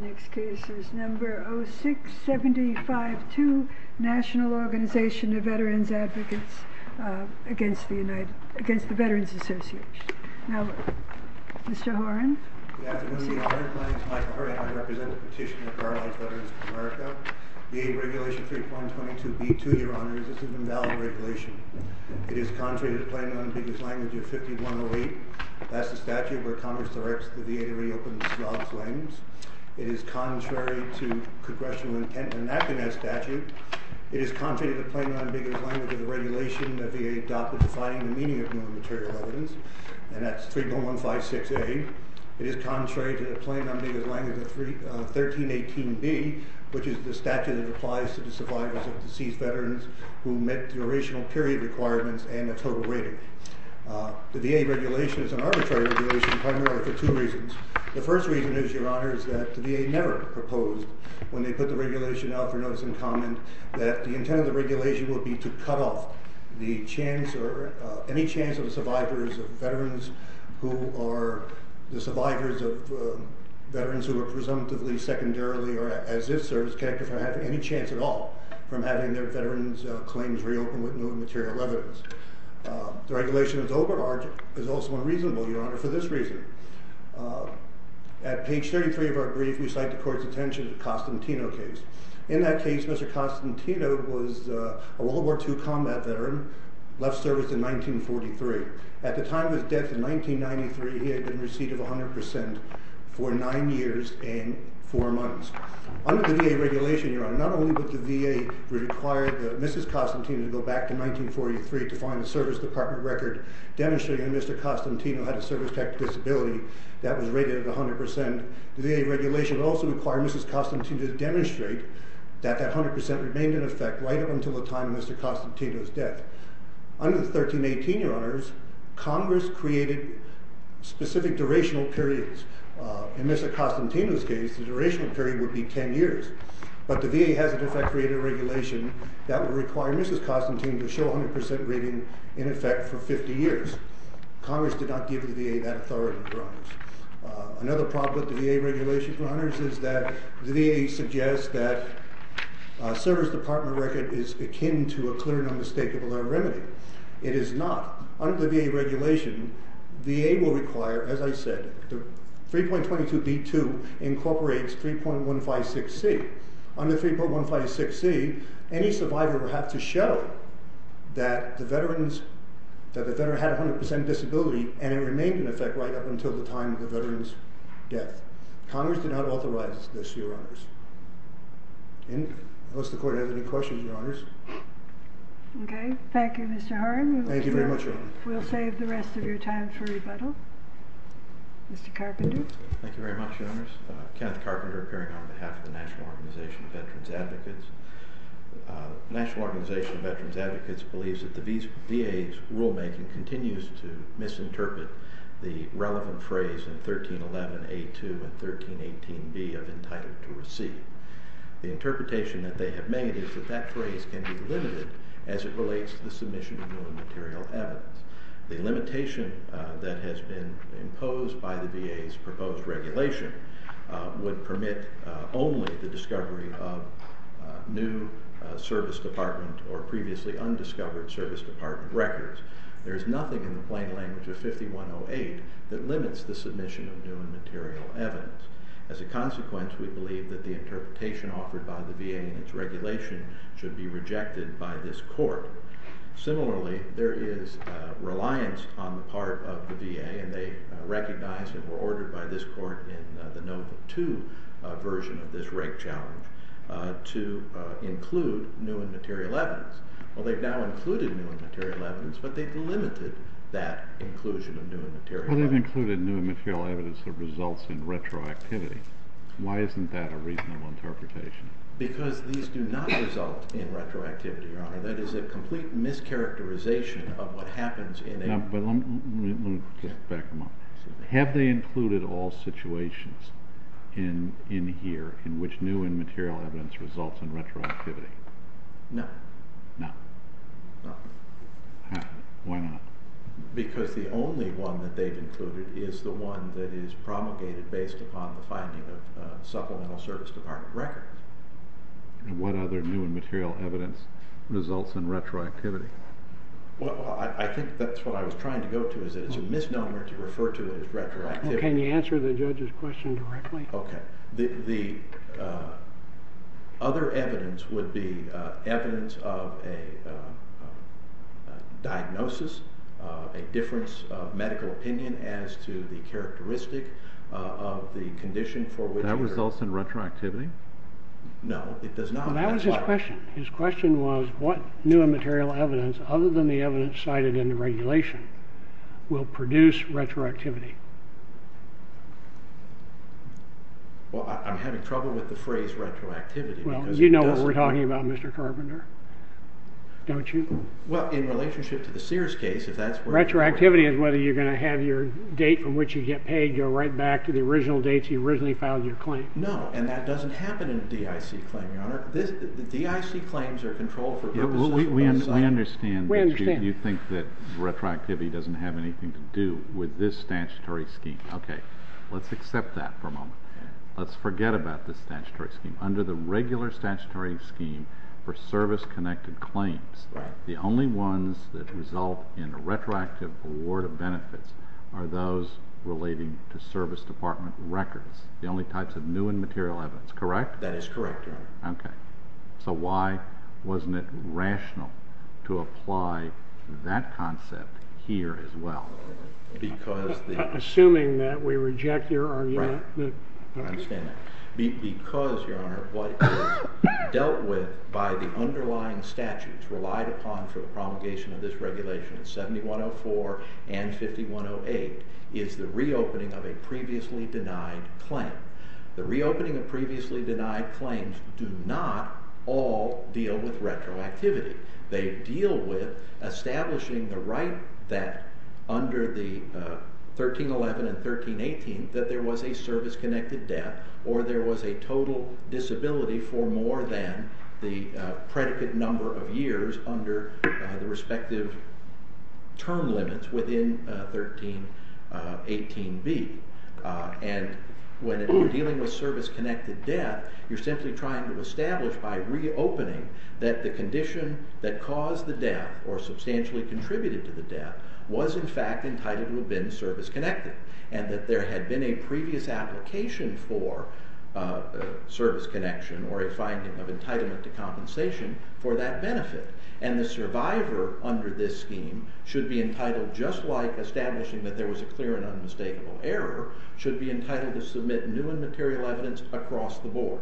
Next case is number 0675-2, National Organization of Veterans of the United States. This is a petition of Veterans Advocates against the Veterans Association. Now, Mr. Horan. Good afternoon, Your Honor. My name is Michael Horan. I represent the petitioner for Our Lives, Veterans of America. VA regulation 3.22b-2, Your Honor, is an invalid regulation. It is contrary to the plaintiff's language of 5108. That's the statute where Congress directs the VA to reopen the slob's limbs. It is contrary to congressional intent in enacting that statute. It is contrary to the plaintiff's language of the regulation that the VA adopted defining the meaning of non-material evidence, and that's 3.156a. It is contrary to the plaintiff's language of 1318b, which is the statute that applies to the survivors of deceased veterans who met durational period requirements and the total rating. The VA regulation is an arbitrary regulation primarily for two reasons. The first reason is, Your Honor, is that the VA never proposed, when they put the regulation out for notice and comment, that the intent of the regulation would be to cut off the chance or any chance of the survivors of veterans who are presumptively secondarily or as if service connected for having any chance at all from having their veterans' claims reopened with non-material evidence. The regulation is also unreasonable, Your Honor, for this reason. At page 33 of our brief, we cite the court's attention to the Costantino case. In that case, Mr. Costantino was a World War II combat veteran, left service in 1943. At the time of his death in 1993, he had been received of 100% for nine years and four months. Under the VA regulation, Your Honor, not only would the VA require Mrs. Costantino to go back to 1943 to find a service department record demonstrating that Mr. Costantino had a service-connected disability that was rated at 100%, the VA regulation would also require Mrs. Costantino to demonstrate that that 100% remained in effect right up until the time of Mr. Costantino's death. Under the 1318, Your Honors, Congress created specific durational periods. In Mr. Costantino's case, the durational period would be 10 years. But the VA has, in effect, created a regulation that would require Mrs. Costantino to show 100% rating in effect for 50 years. Congress did not give the VA that authority, Your Honors. Another problem with the VA regulation, Your Honors, is that the VA suggests that a service department record is akin to a clear and unmistakable remedy. It is not. Under the VA regulation, the VA will require, as I said, 3.22d2 incorporates 3.156c. Under 3.156c, any survivor will have to show that the veteran had 100% disability and it remained in effect right up until the time of the veteran's death. Congress did not authorize this, Your Honors. Unless the Court has any questions, Your Honors. Okay. Thank you, Mr. Horan. Thank you very much, Your Honor. We'll save the rest of your time for rebuttal. Mr. Carpenter. Thank you very much, Your Honors. Kenneth Carpenter appearing on behalf of the National Organization of Veterans Advocates. The National Organization of Veterans Advocates believes that the VA's rulemaking continues to misinterpret the relevant phrase in 1311a2 and 1318b of entitled to receive. The interpretation that they have made is that that phrase can be limited as it relates to the submission of new and material evidence. The limitation that has been imposed by the VA's proposed regulation would permit only the discovery of new service department or previously undiscovered service department records. There is nothing in the plain language of 5108 that limits the submission of new and material evidence. As a consequence, we believe that the interpretation offered by the VA and its regulation should be rejected by this Court. Similarly, there is reliance on the part of the VA, and they recognized and were ordered by this Court in the Note 2 version of this rate challenge to include new and material evidence. Well, they've now included new and material evidence, but they've limited that inclusion of new and material evidence. Well, they've included new and material evidence that results in retroactivity. Why isn't that a reasonable interpretation? Because these do not result in retroactivity, Your Honor. That is a complete mischaracterization of what happens in a... No, but let me just back them up. Have they included all situations in here in which new and material evidence results in retroactivity? No. No. No. Why not? Because the only one that they've included is the one that is promulgated based upon the finding of supplemental service department records. And what other new and material evidence results in retroactivity? Well, I think that's what I was trying to go to, is that it's a misnomer to refer to it as retroactivity. Well, can you answer the judge's question directly? Okay. The other evidence would be evidence of a diagnosis, a difference of medical opinion as to the characteristic of the condition for which... Does that result in retroactivity? No, it does not. Well, that was his question. His question was, what new and material evidence, other than the evidence cited in the regulation, will produce retroactivity? Well, I'm having trouble with the phrase retroactivity because it doesn't... Well, you know what we're talking about, Mr. Carpenter, don't you? Well, in relationship to the Sears case, if that's where... Retroactivity is whether you're going to have your date from which you get paid go right back to the original date you originally filed your claim. No, and that doesn't happen in a DIC claim, Your Honor. The DIC claims are controlled for purposes of... We understand that you think that retroactivity doesn't have anything to do with this statutory scheme. Okay, let's accept that for a moment. Let's forget about this statutory scheme. Under the regular statutory scheme for service-connected claims, the only ones that result in a retroactive award of benefits are those relating to service department records. The only types of new and material evidence, correct? That is correct, Your Honor. Okay. So why wasn't it rational to apply that concept here as well? Assuming that we reject your argument. Right. I understand that. Because, Your Honor, what is dealt with by the underlying statutes relied upon for the promulgation of this regulation in 7104 and 5108 is the reopening of a previously denied claim. The reopening of previously denied claims do not all deal with retroactivity. They deal with establishing the right that under the 1311 and 1318 that there was a service-connected debt or there was a total disability for more than the predicate number of years under the respective term limits within 1318B. And when you're dealing with service-connected debt, you're simply trying to establish by reopening that the condition that caused the debt or substantially contributed to the debt was in fact entitled to have been service-connected and that there had been a previous application for service connection or a finding of entitlement to compensation for that benefit. And the survivor under this scheme should be entitled, just like establishing that there was a clear and unmistakable error, should be entitled to submit new and material evidence across the board.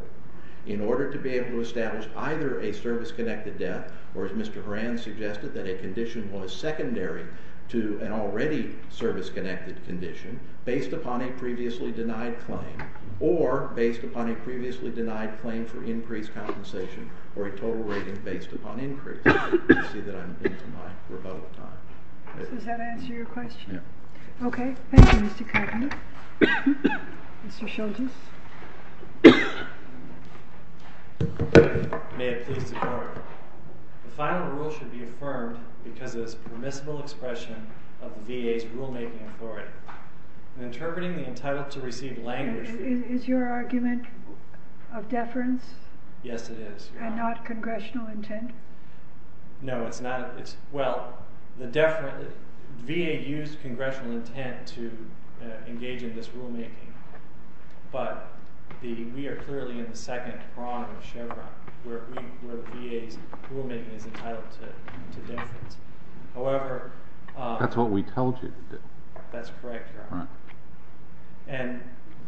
In order to be able to establish either a service-connected debt or, as Mr. Horan suggested, that a condition was secondary to an already service-connected condition based upon a previously denied claim or based upon a previously denied claim for increased compensation or a total rating based upon increase. You see that I'm into my rebuttal time. Does that answer your question? Yes. Okay. Thank you, Mr. Kagan. Mr. Childress. May it please the Court. The final rule should be affirmed because it is permissible expression of the VA's rulemaking authority. In interpreting the entitled-to-receive language... Is your argument of deference? Yes, it is, Your Honor. And not congressional intent? No, it's not. Well, VA used congressional intent to engage in this rulemaking, but we are clearly in the second prong of Chevron where the VA's rulemaking is entitled to deference. However... That's what we told you to do. That's correct, Your Honor.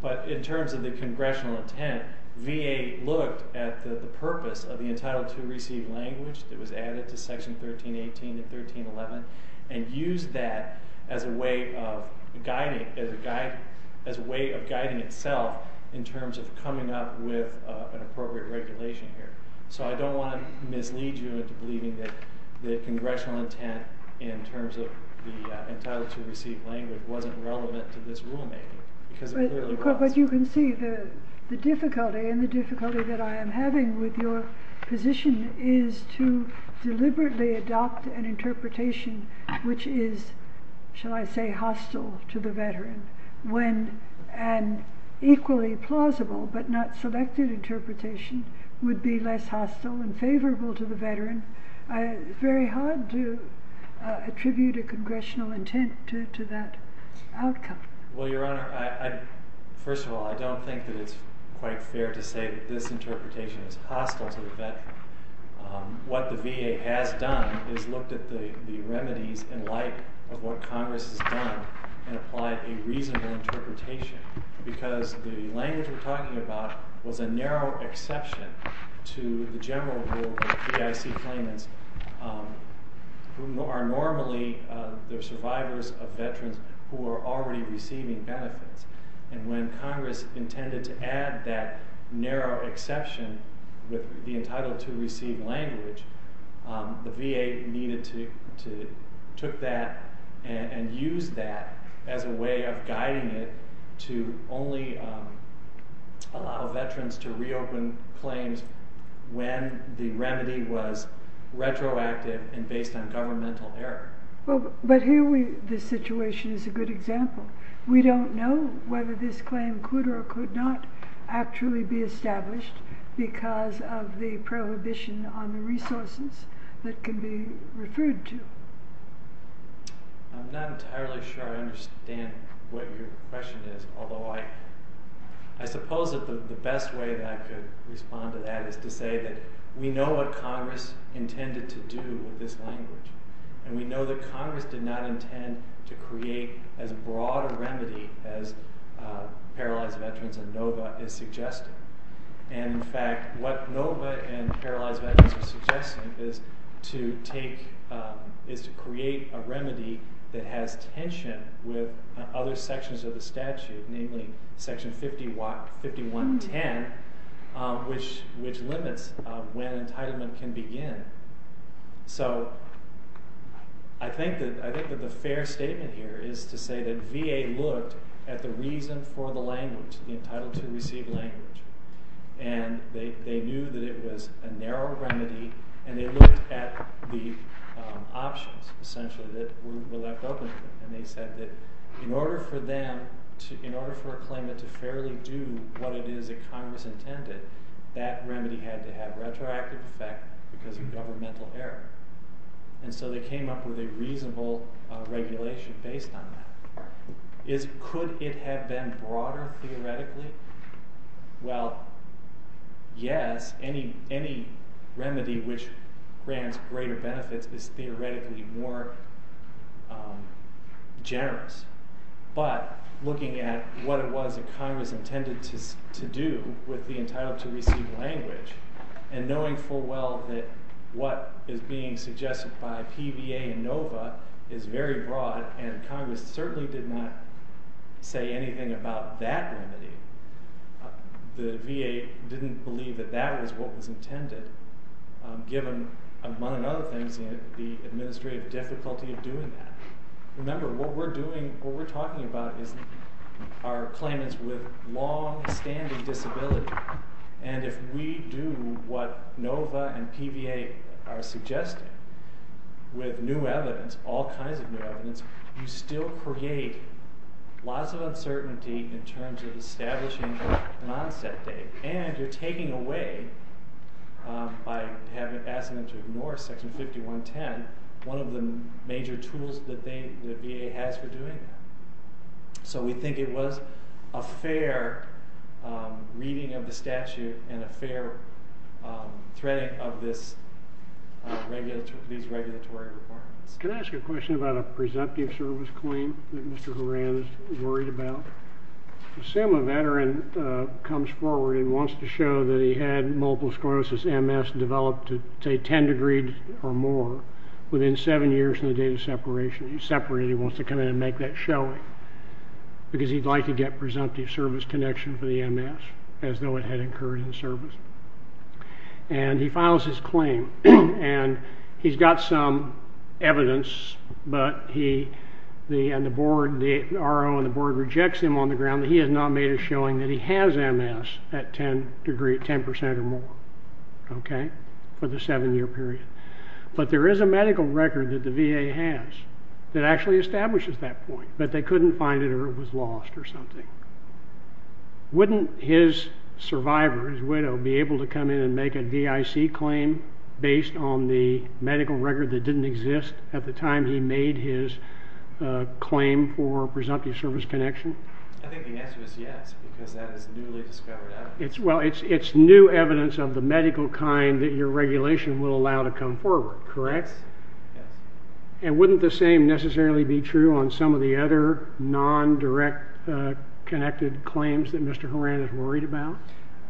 But in terms of the congressional intent, VA looked at the purpose of the entitled-to-receive language that was added to Section 1318 and 1311 and used that as a way of guiding itself in terms of coming up with an appropriate regulation here. So I don't want to mislead you into believing that the congressional intent in terms of the entitled-to-receive language wasn't relevant to this rulemaking because it clearly was. But you can see the difficulty, and the difficulty that I am having with your position is to deliberately adopt an interpretation which is, shall I say, hostile to the veteran when an equally plausible but not selected interpretation would be less hostile and favorable to the veteran. It's very hard to attribute a congressional intent to that outcome. Well, Your Honor, first of all, I don't think that it's quite fair to say that this interpretation is hostile to the veteran. What the VA has done is looked at the remedies in light of what Congress has done and applied a reasonable interpretation because the language we're talking about was a narrow exception to the general rule of AIC claimants who are normally the survivors of veterans who are already receiving benefits. And when Congress intended to add that narrow exception with the entitled-to-receive language, the VA took that and used that as a way of guiding it to only allow veterans to reopen claims when the remedy was retroactive and based on governmental error. But here the situation is a good example. We don't know whether this claim could or could not actually be established because of the prohibition on the resources that can be referred to. I'm not entirely sure I understand what your question is, although I suppose that the best way that I could respond to that is to say that we know what Congress intended to do with this language, and we know that Congress did not intend to create as broad a remedy as paralyzed veterans or NOVA is suggesting. And, in fact, what NOVA and paralyzed veterans are suggesting is to create a remedy that has tension with other sections of the statute, namely Section 5110, which limits when entitlement can begin. So I think that the fair statement here is to say that VA looked at the reason for the language, the entitled-to-receive language, and they knew that it was a narrow remedy, and they looked at the options, essentially, that were left open to them. And they said that in order for a claimant to fairly do what it is that Congress intended, that remedy had to have retroactive effect because of governmental error. And so they came up with a reasonable regulation based on that. Could it have been broader, theoretically? Well, yes. Any remedy which grants greater benefits is theoretically more generous. But looking at what it was that Congress intended to do with the entitled-to-receive language, and knowing full well that what is being suggested by PVA and NOVA is very broad, and Congress certainly did not say anything about that remedy, the VA didn't believe that that was what was intended, given, among other things, the administrative difficulty of doing that. Remember, what we're doing, what we're talking about, is our claimants with longstanding disability. And if we do what NOVA and PVA are suggesting with new evidence, all kinds of new evidence, you still create lots of uncertainty in terms of establishing an onset date. And you're taking away, by asking them to ignore Section 5110, one of the major tools that the VA has for doing that. So we think it was a fair reading of the statute and a fair threading of these regulatory requirements. Can I ask a question about a presumptive service claim that Mr. Horan is worried about? Sam, a veteran, comes forward and wants to show that he had multiple sclerosis MS developed to, say, 10 degrees or more within seven years from the date of separation. He separated it. He wants to come in and make that showing, because he'd like to get presumptive service connection for the MS, as though it had occurred in service. And he files his claim, and he's got some evidence, but the RO and the board rejects him on the ground that he has not made a showing that he has MS at 10 percent or more for the seven-year period. But there is a medical record that the VA has that actually establishes that point, but they couldn't find it or it was lost or something. Wouldn't his survivor, his widow, be able to come in and make a VIC claim based on the medical record that didn't exist at the time he made his claim for presumptive service connection? I think the answer is yes, because that is newly discovered evidence. Well, it's new evidence of the medical kind that your regulation will allow to come forward, correct? Yes. And wouldn't the same necessarily be true on some of the other non-direct connected claims that Mr. Horan is worried about?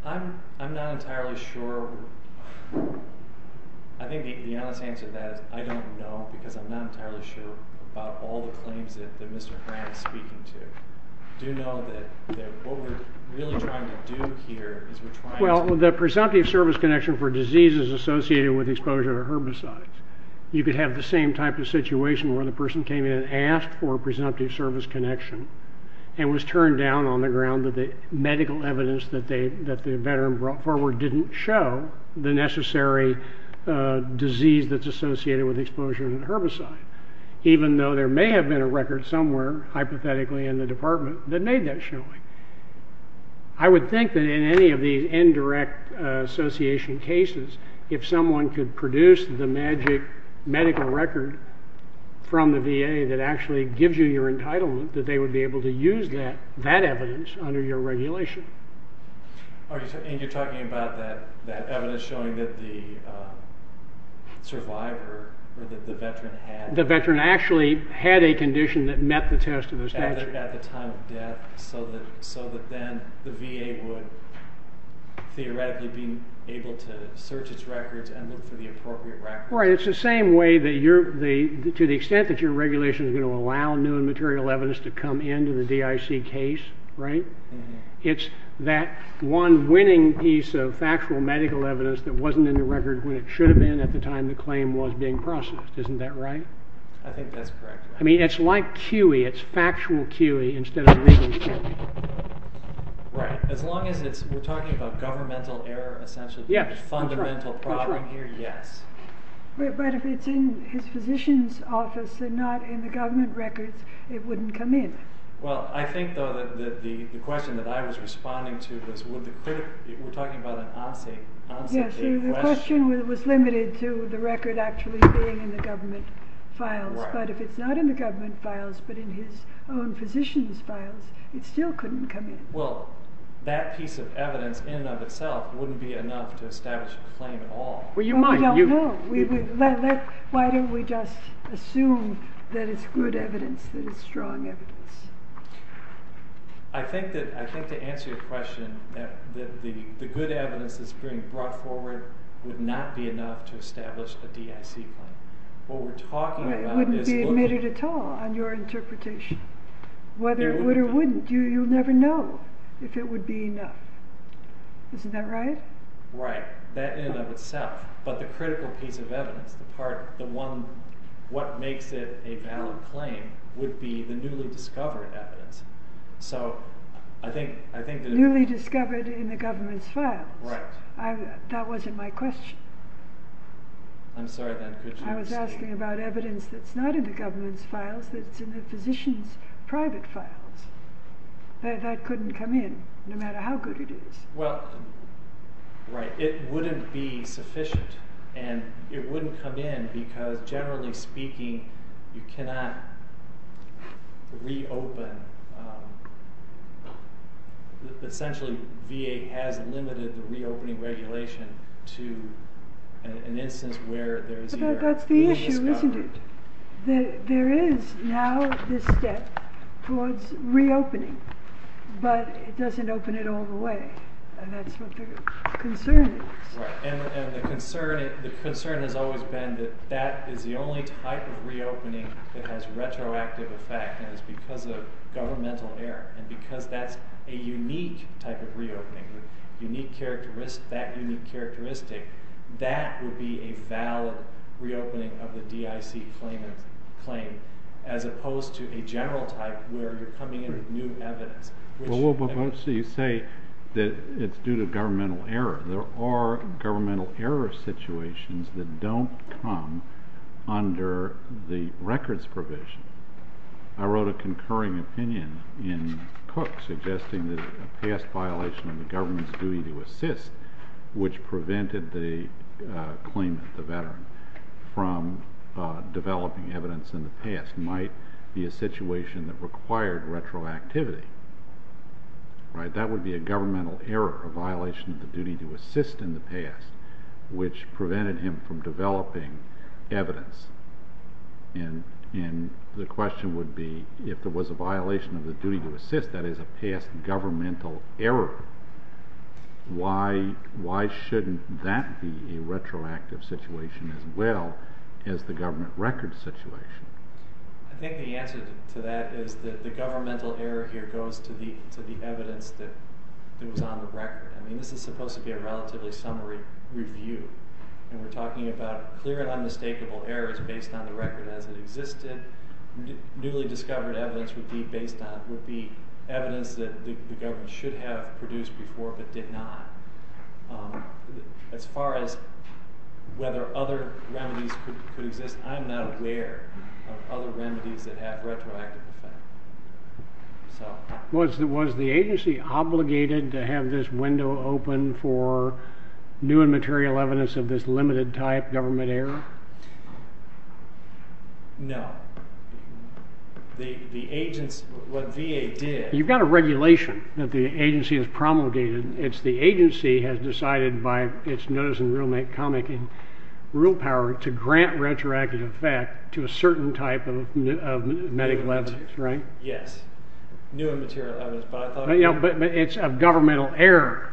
I'm not entirely sure. I think the honest answer to that is I don't know, because I'm not entirely sure about all the claims that Mr. Horan is speaking to. I do know that what we're really trying to do here is we're trying to Well, the presumptive service connection for disease is associated with exposure to herbicides. You could have the same type of situation where the person came in and asked for a presumptive service connection and was turned down on the ground that the medical evidence that the veteran brought forward didn't show the necessary disease that's associated with exposure to herbicide, even though there may have been a record somewhere, hypothetically, in the department that made that showing. I would think that in any of these indirect association cases, if someone could produce the magic medical record from the VA that actually gives you your entitlement, that they would be able to use that evidence under your regulation. And you're talking about that evidence showing that the survivor or that the veteran had The veteran actually had a condition that met the test of the statute. At the time of death, so that then the VA would theoretically be able to search its records and look for the appropriate record. Right. It's the same way that to the extent that your regulation is going to allow new and material evidence to come into the DIC case, right? It's that one winning piece of factual medical evidence that wasn't in the record when it should have been at the time the claim was being processed. Isn't that right? I think that's correct. I mean, it's like QE. It's factual QE instead of legal QE. Right. As long as we're talking about governmental error, essentially the fundamental problem here, yes. But if it's in his physician's office and not in the government records, it wouldn't come in. Well, I think, though, that the question that I was responding to was, would the clerk, we're talking about an encyclical question. Yes, the question was limited to the record actually being in the government files. But if it's not in the government files but in his own physician's files, it still couldn't come in. Well, that piece of evidence in and of itself wouldn't be enough to establish a claim at all. Well, you might. We don't know. Why don't we just assume that it's good evidence, that it's strong evidence? I think that to answer your question, that the good evidence that's being brought forward would not be enough to establish a DIC claim. What we're talking about is looking— It wouldn't be admitted at all on your interpretation. Whether it would or wouldn't, you'll never know if it would be enough. Isn't that right? Right. That in and of itself. But the critical piece of evidence, the part, the one, what makes it a valid claim would be the newly discovered evidence. So I think— Newly discovered in the government's files. Right. That wasn't my question. I'm sorry then. I was asking about evidence that's not in the government's files, that's in the physician's private files. That couldn't come in, no matter how good it is. Well, right. It wouldn't be sufficient. And it wouldn't come in because, generally speaking, you cannot reopen. Essentially, VA has limited the reopening regulation to an instance where there is either newly discovered— But that's the issue, isn't it? There is now this step towards reopening, but it doesn't open it all the way. And that's what the concern is. Right. And the concern has always been that that is the only type of reopening that has retroactive effect, and it's because of governmental error. And because that's a unique type of reopening, that unique characteristic, that would be a valid reopening of the DIC claim as opposed to a general type where you're coming in with new evidence. Well, but you say that it's due to governmental error. There are governmental error situations that don't come under the records provision. I wrote a concurring opinion in Cook suggesting that a past violation of the government's duty to assist, which prevented the claimant, the veteran, from developing evidence in the past, might be a situation that required retroactivity. That would be a governmental error, a violation of the duty to assist in the past, which prevented him from developing evidence. And the question would be, if there was a violation of the duty to assist, that is a past governmental error, why shouldn't that be a retroactive situation as well as the government record situation? I think the answer to that is that the governmental error here goes to the evidence that was on the record. I mean, this is supposed to be a relatively summary review, and we're talking about clear and unmistakable errors based on the record as it existed. Newly discovered evidence would be evidence that the government should have produced before but did not. As far as whether other remedies could exist, I'm not aware of other remedies that have retroactive effect. Was the agency obligated to have this window open for new and material evidence of this limited-type government error? No. The agency, what VA did... You've got a regulation that the agency has promulgated. It's the agency has decided by its notice in rulemaking, rule power to grant retroactive effect to a certain type of medical evidence, right? Yes. New and material evidence, but I thought... But it's a governmental error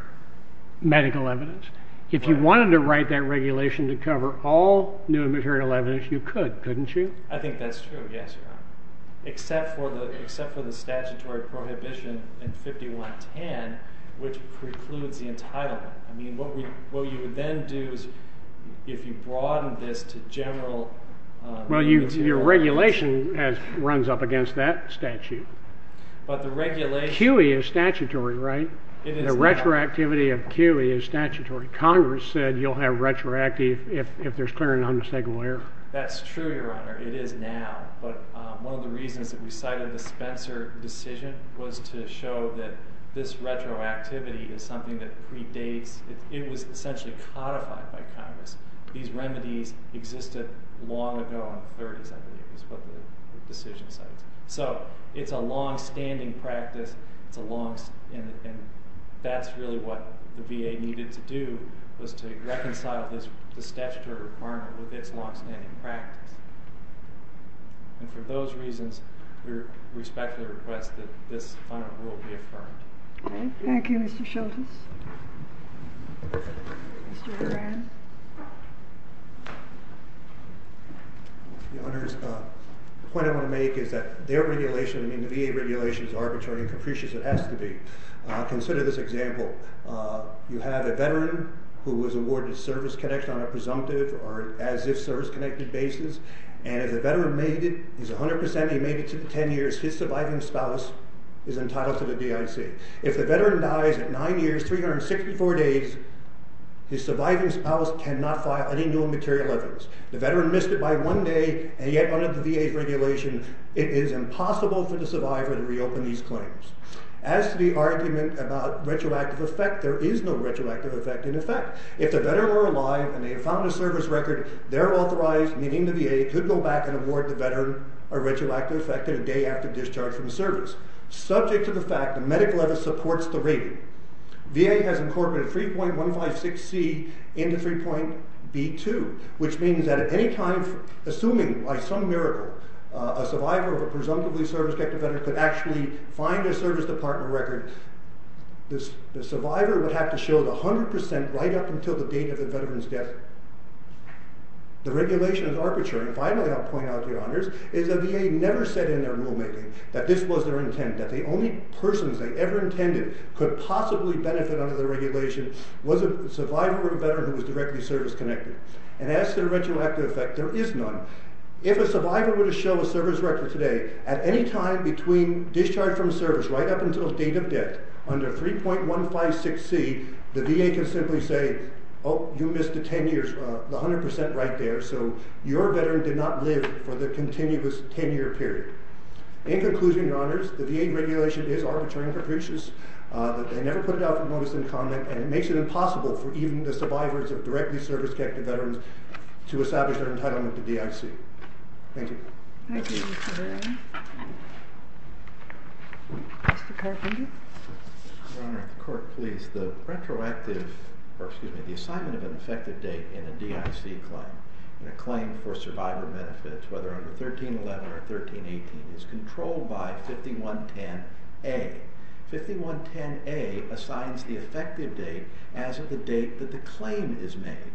medical evidence. If you wanted to write that regulation to cover all new and material evidence, you could, couldn't you? I think that's true, yes, Your Honor, except for the statutory prohibition in 5110, which precludes the entitlement. I mean, what you would then do is if you broaden this to general... Well, your regulation runs up against that statute. But the regulation... QE is statutory, right? The retroactivity of QE is statutory. Congress said you'll have retroactive if there's clear and unmistakable error. That's true, Your Honor. It is now. But one of the reasons that we cited the Spencer decision was to show that this retroactivity is something that predates... It was essentially codified by Congress. These remedies existed long ago in the 30s, I believe, is what the decision cites. So it's a longstanding practice, and that's really what the VA needed to do was to reconcile the statutory requirement with its longstanding practice. And for those reasons, we respectfully request that this final rule be affirmed. Thank you, Mr. Schultes. Mr. Moran. Your Honors, the point I want to make is that their regulation and the VA regulation is arbitrary and capricious as it has to be. Consider this example. You have a veteran who was awarded service connection on a presumptive or as-if service-connected basis, and if the veteran made it, he's 100%, he made it to 10 years, his surviving spouse is entitled to the DIC. If the veteran dies at 9 years, 364 days, his surviving spouse cannot file any new immaterial evidence. The veteran missed it by one day, and yet under the VA's regulation, it is impossible for the survivor to reopen these claims. As to the argument about retroactive effect, there is no retroactive effect in effect. If the veteran were alive and they found a service record, they're authorized, meaning the VA could go back and award the veteran a retroactive effect a day after discharge from the service, subject to the fact the medical evidence supports the rating. VA has incorporated 3.156C into 3.B2, which means that at any time, assuming by some miracle, a survivor of a presumptively service-connected veteran could actually find a service department record, the survivor would have to show the 100% right up until the date of the veteran's death. The regulation is arbitrary. Finally, I'll point out to your honors, is the VA never said in their rulemaking that this was their intent, that the only persons they ever intended could possibly benefit under the regulation was a survivor or a veteran who was directly service-connected. And as to the retroactive effect, there is none. If a survivor were to show a service record today, at any time between discharge from service right up until date of death, under 3.156C, the VA can simply say, oh, you missed the 10 years, the 100% right there, so your veteran did not live for the continuous 10-year period. In conclusion, your honors, the VA regulation is arbitrary and capricious. They never put it out for notice and comment, and it makes it impossible for even the survivors of directly service-connected veterans to establish their entitlement to DIC. Thank you. Thank you, Mr. Barrett. Mr. Carpenter. Your Honor, the court please. The retroactive, or excuse me, the assignment of an effective date in a DIC claim, in a claim for survivor benefits, whether under 1311 or 1318, is controlled by 5110A. 5110A assigns the effective date as of the date that the claim is made.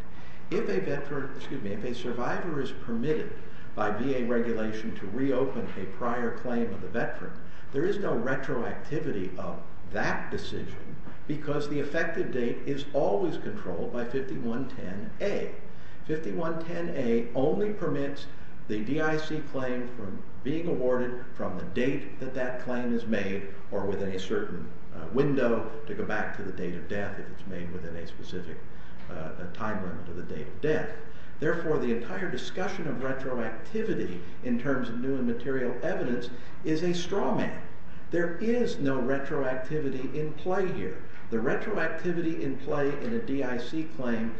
If a survivor is permitted by VA regulation to reopen a prior claim of a veteran, there is no retroactivity of that decision because the effective date is always controlled by 5110A. 5110A only permits the DIC claim from being awarded from the date that that claim is made if it's made within a specific time run under the date of death. Therefore, the entire discussion of retroactivity in terms of new and material evidence is a straw man. There is no retroactivity in play here. The retroactivity in play in a DIC claim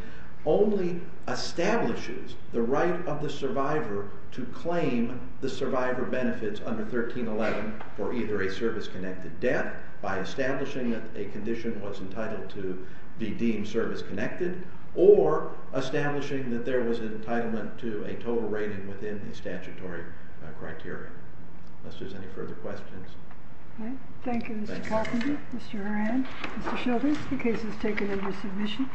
only establishes the right of the survivor to claim the survivor benefits under 1311 for either a service-connected debt by establishing that a condition was entitled to be deemed service-connected or establishing that there was an entitlement to a total rating within the statutory criteria. Unless there's any further questions. Thank you, Mr. Carpenter, Mr. Horan, Mr. Sheldon. The case is taken under submission.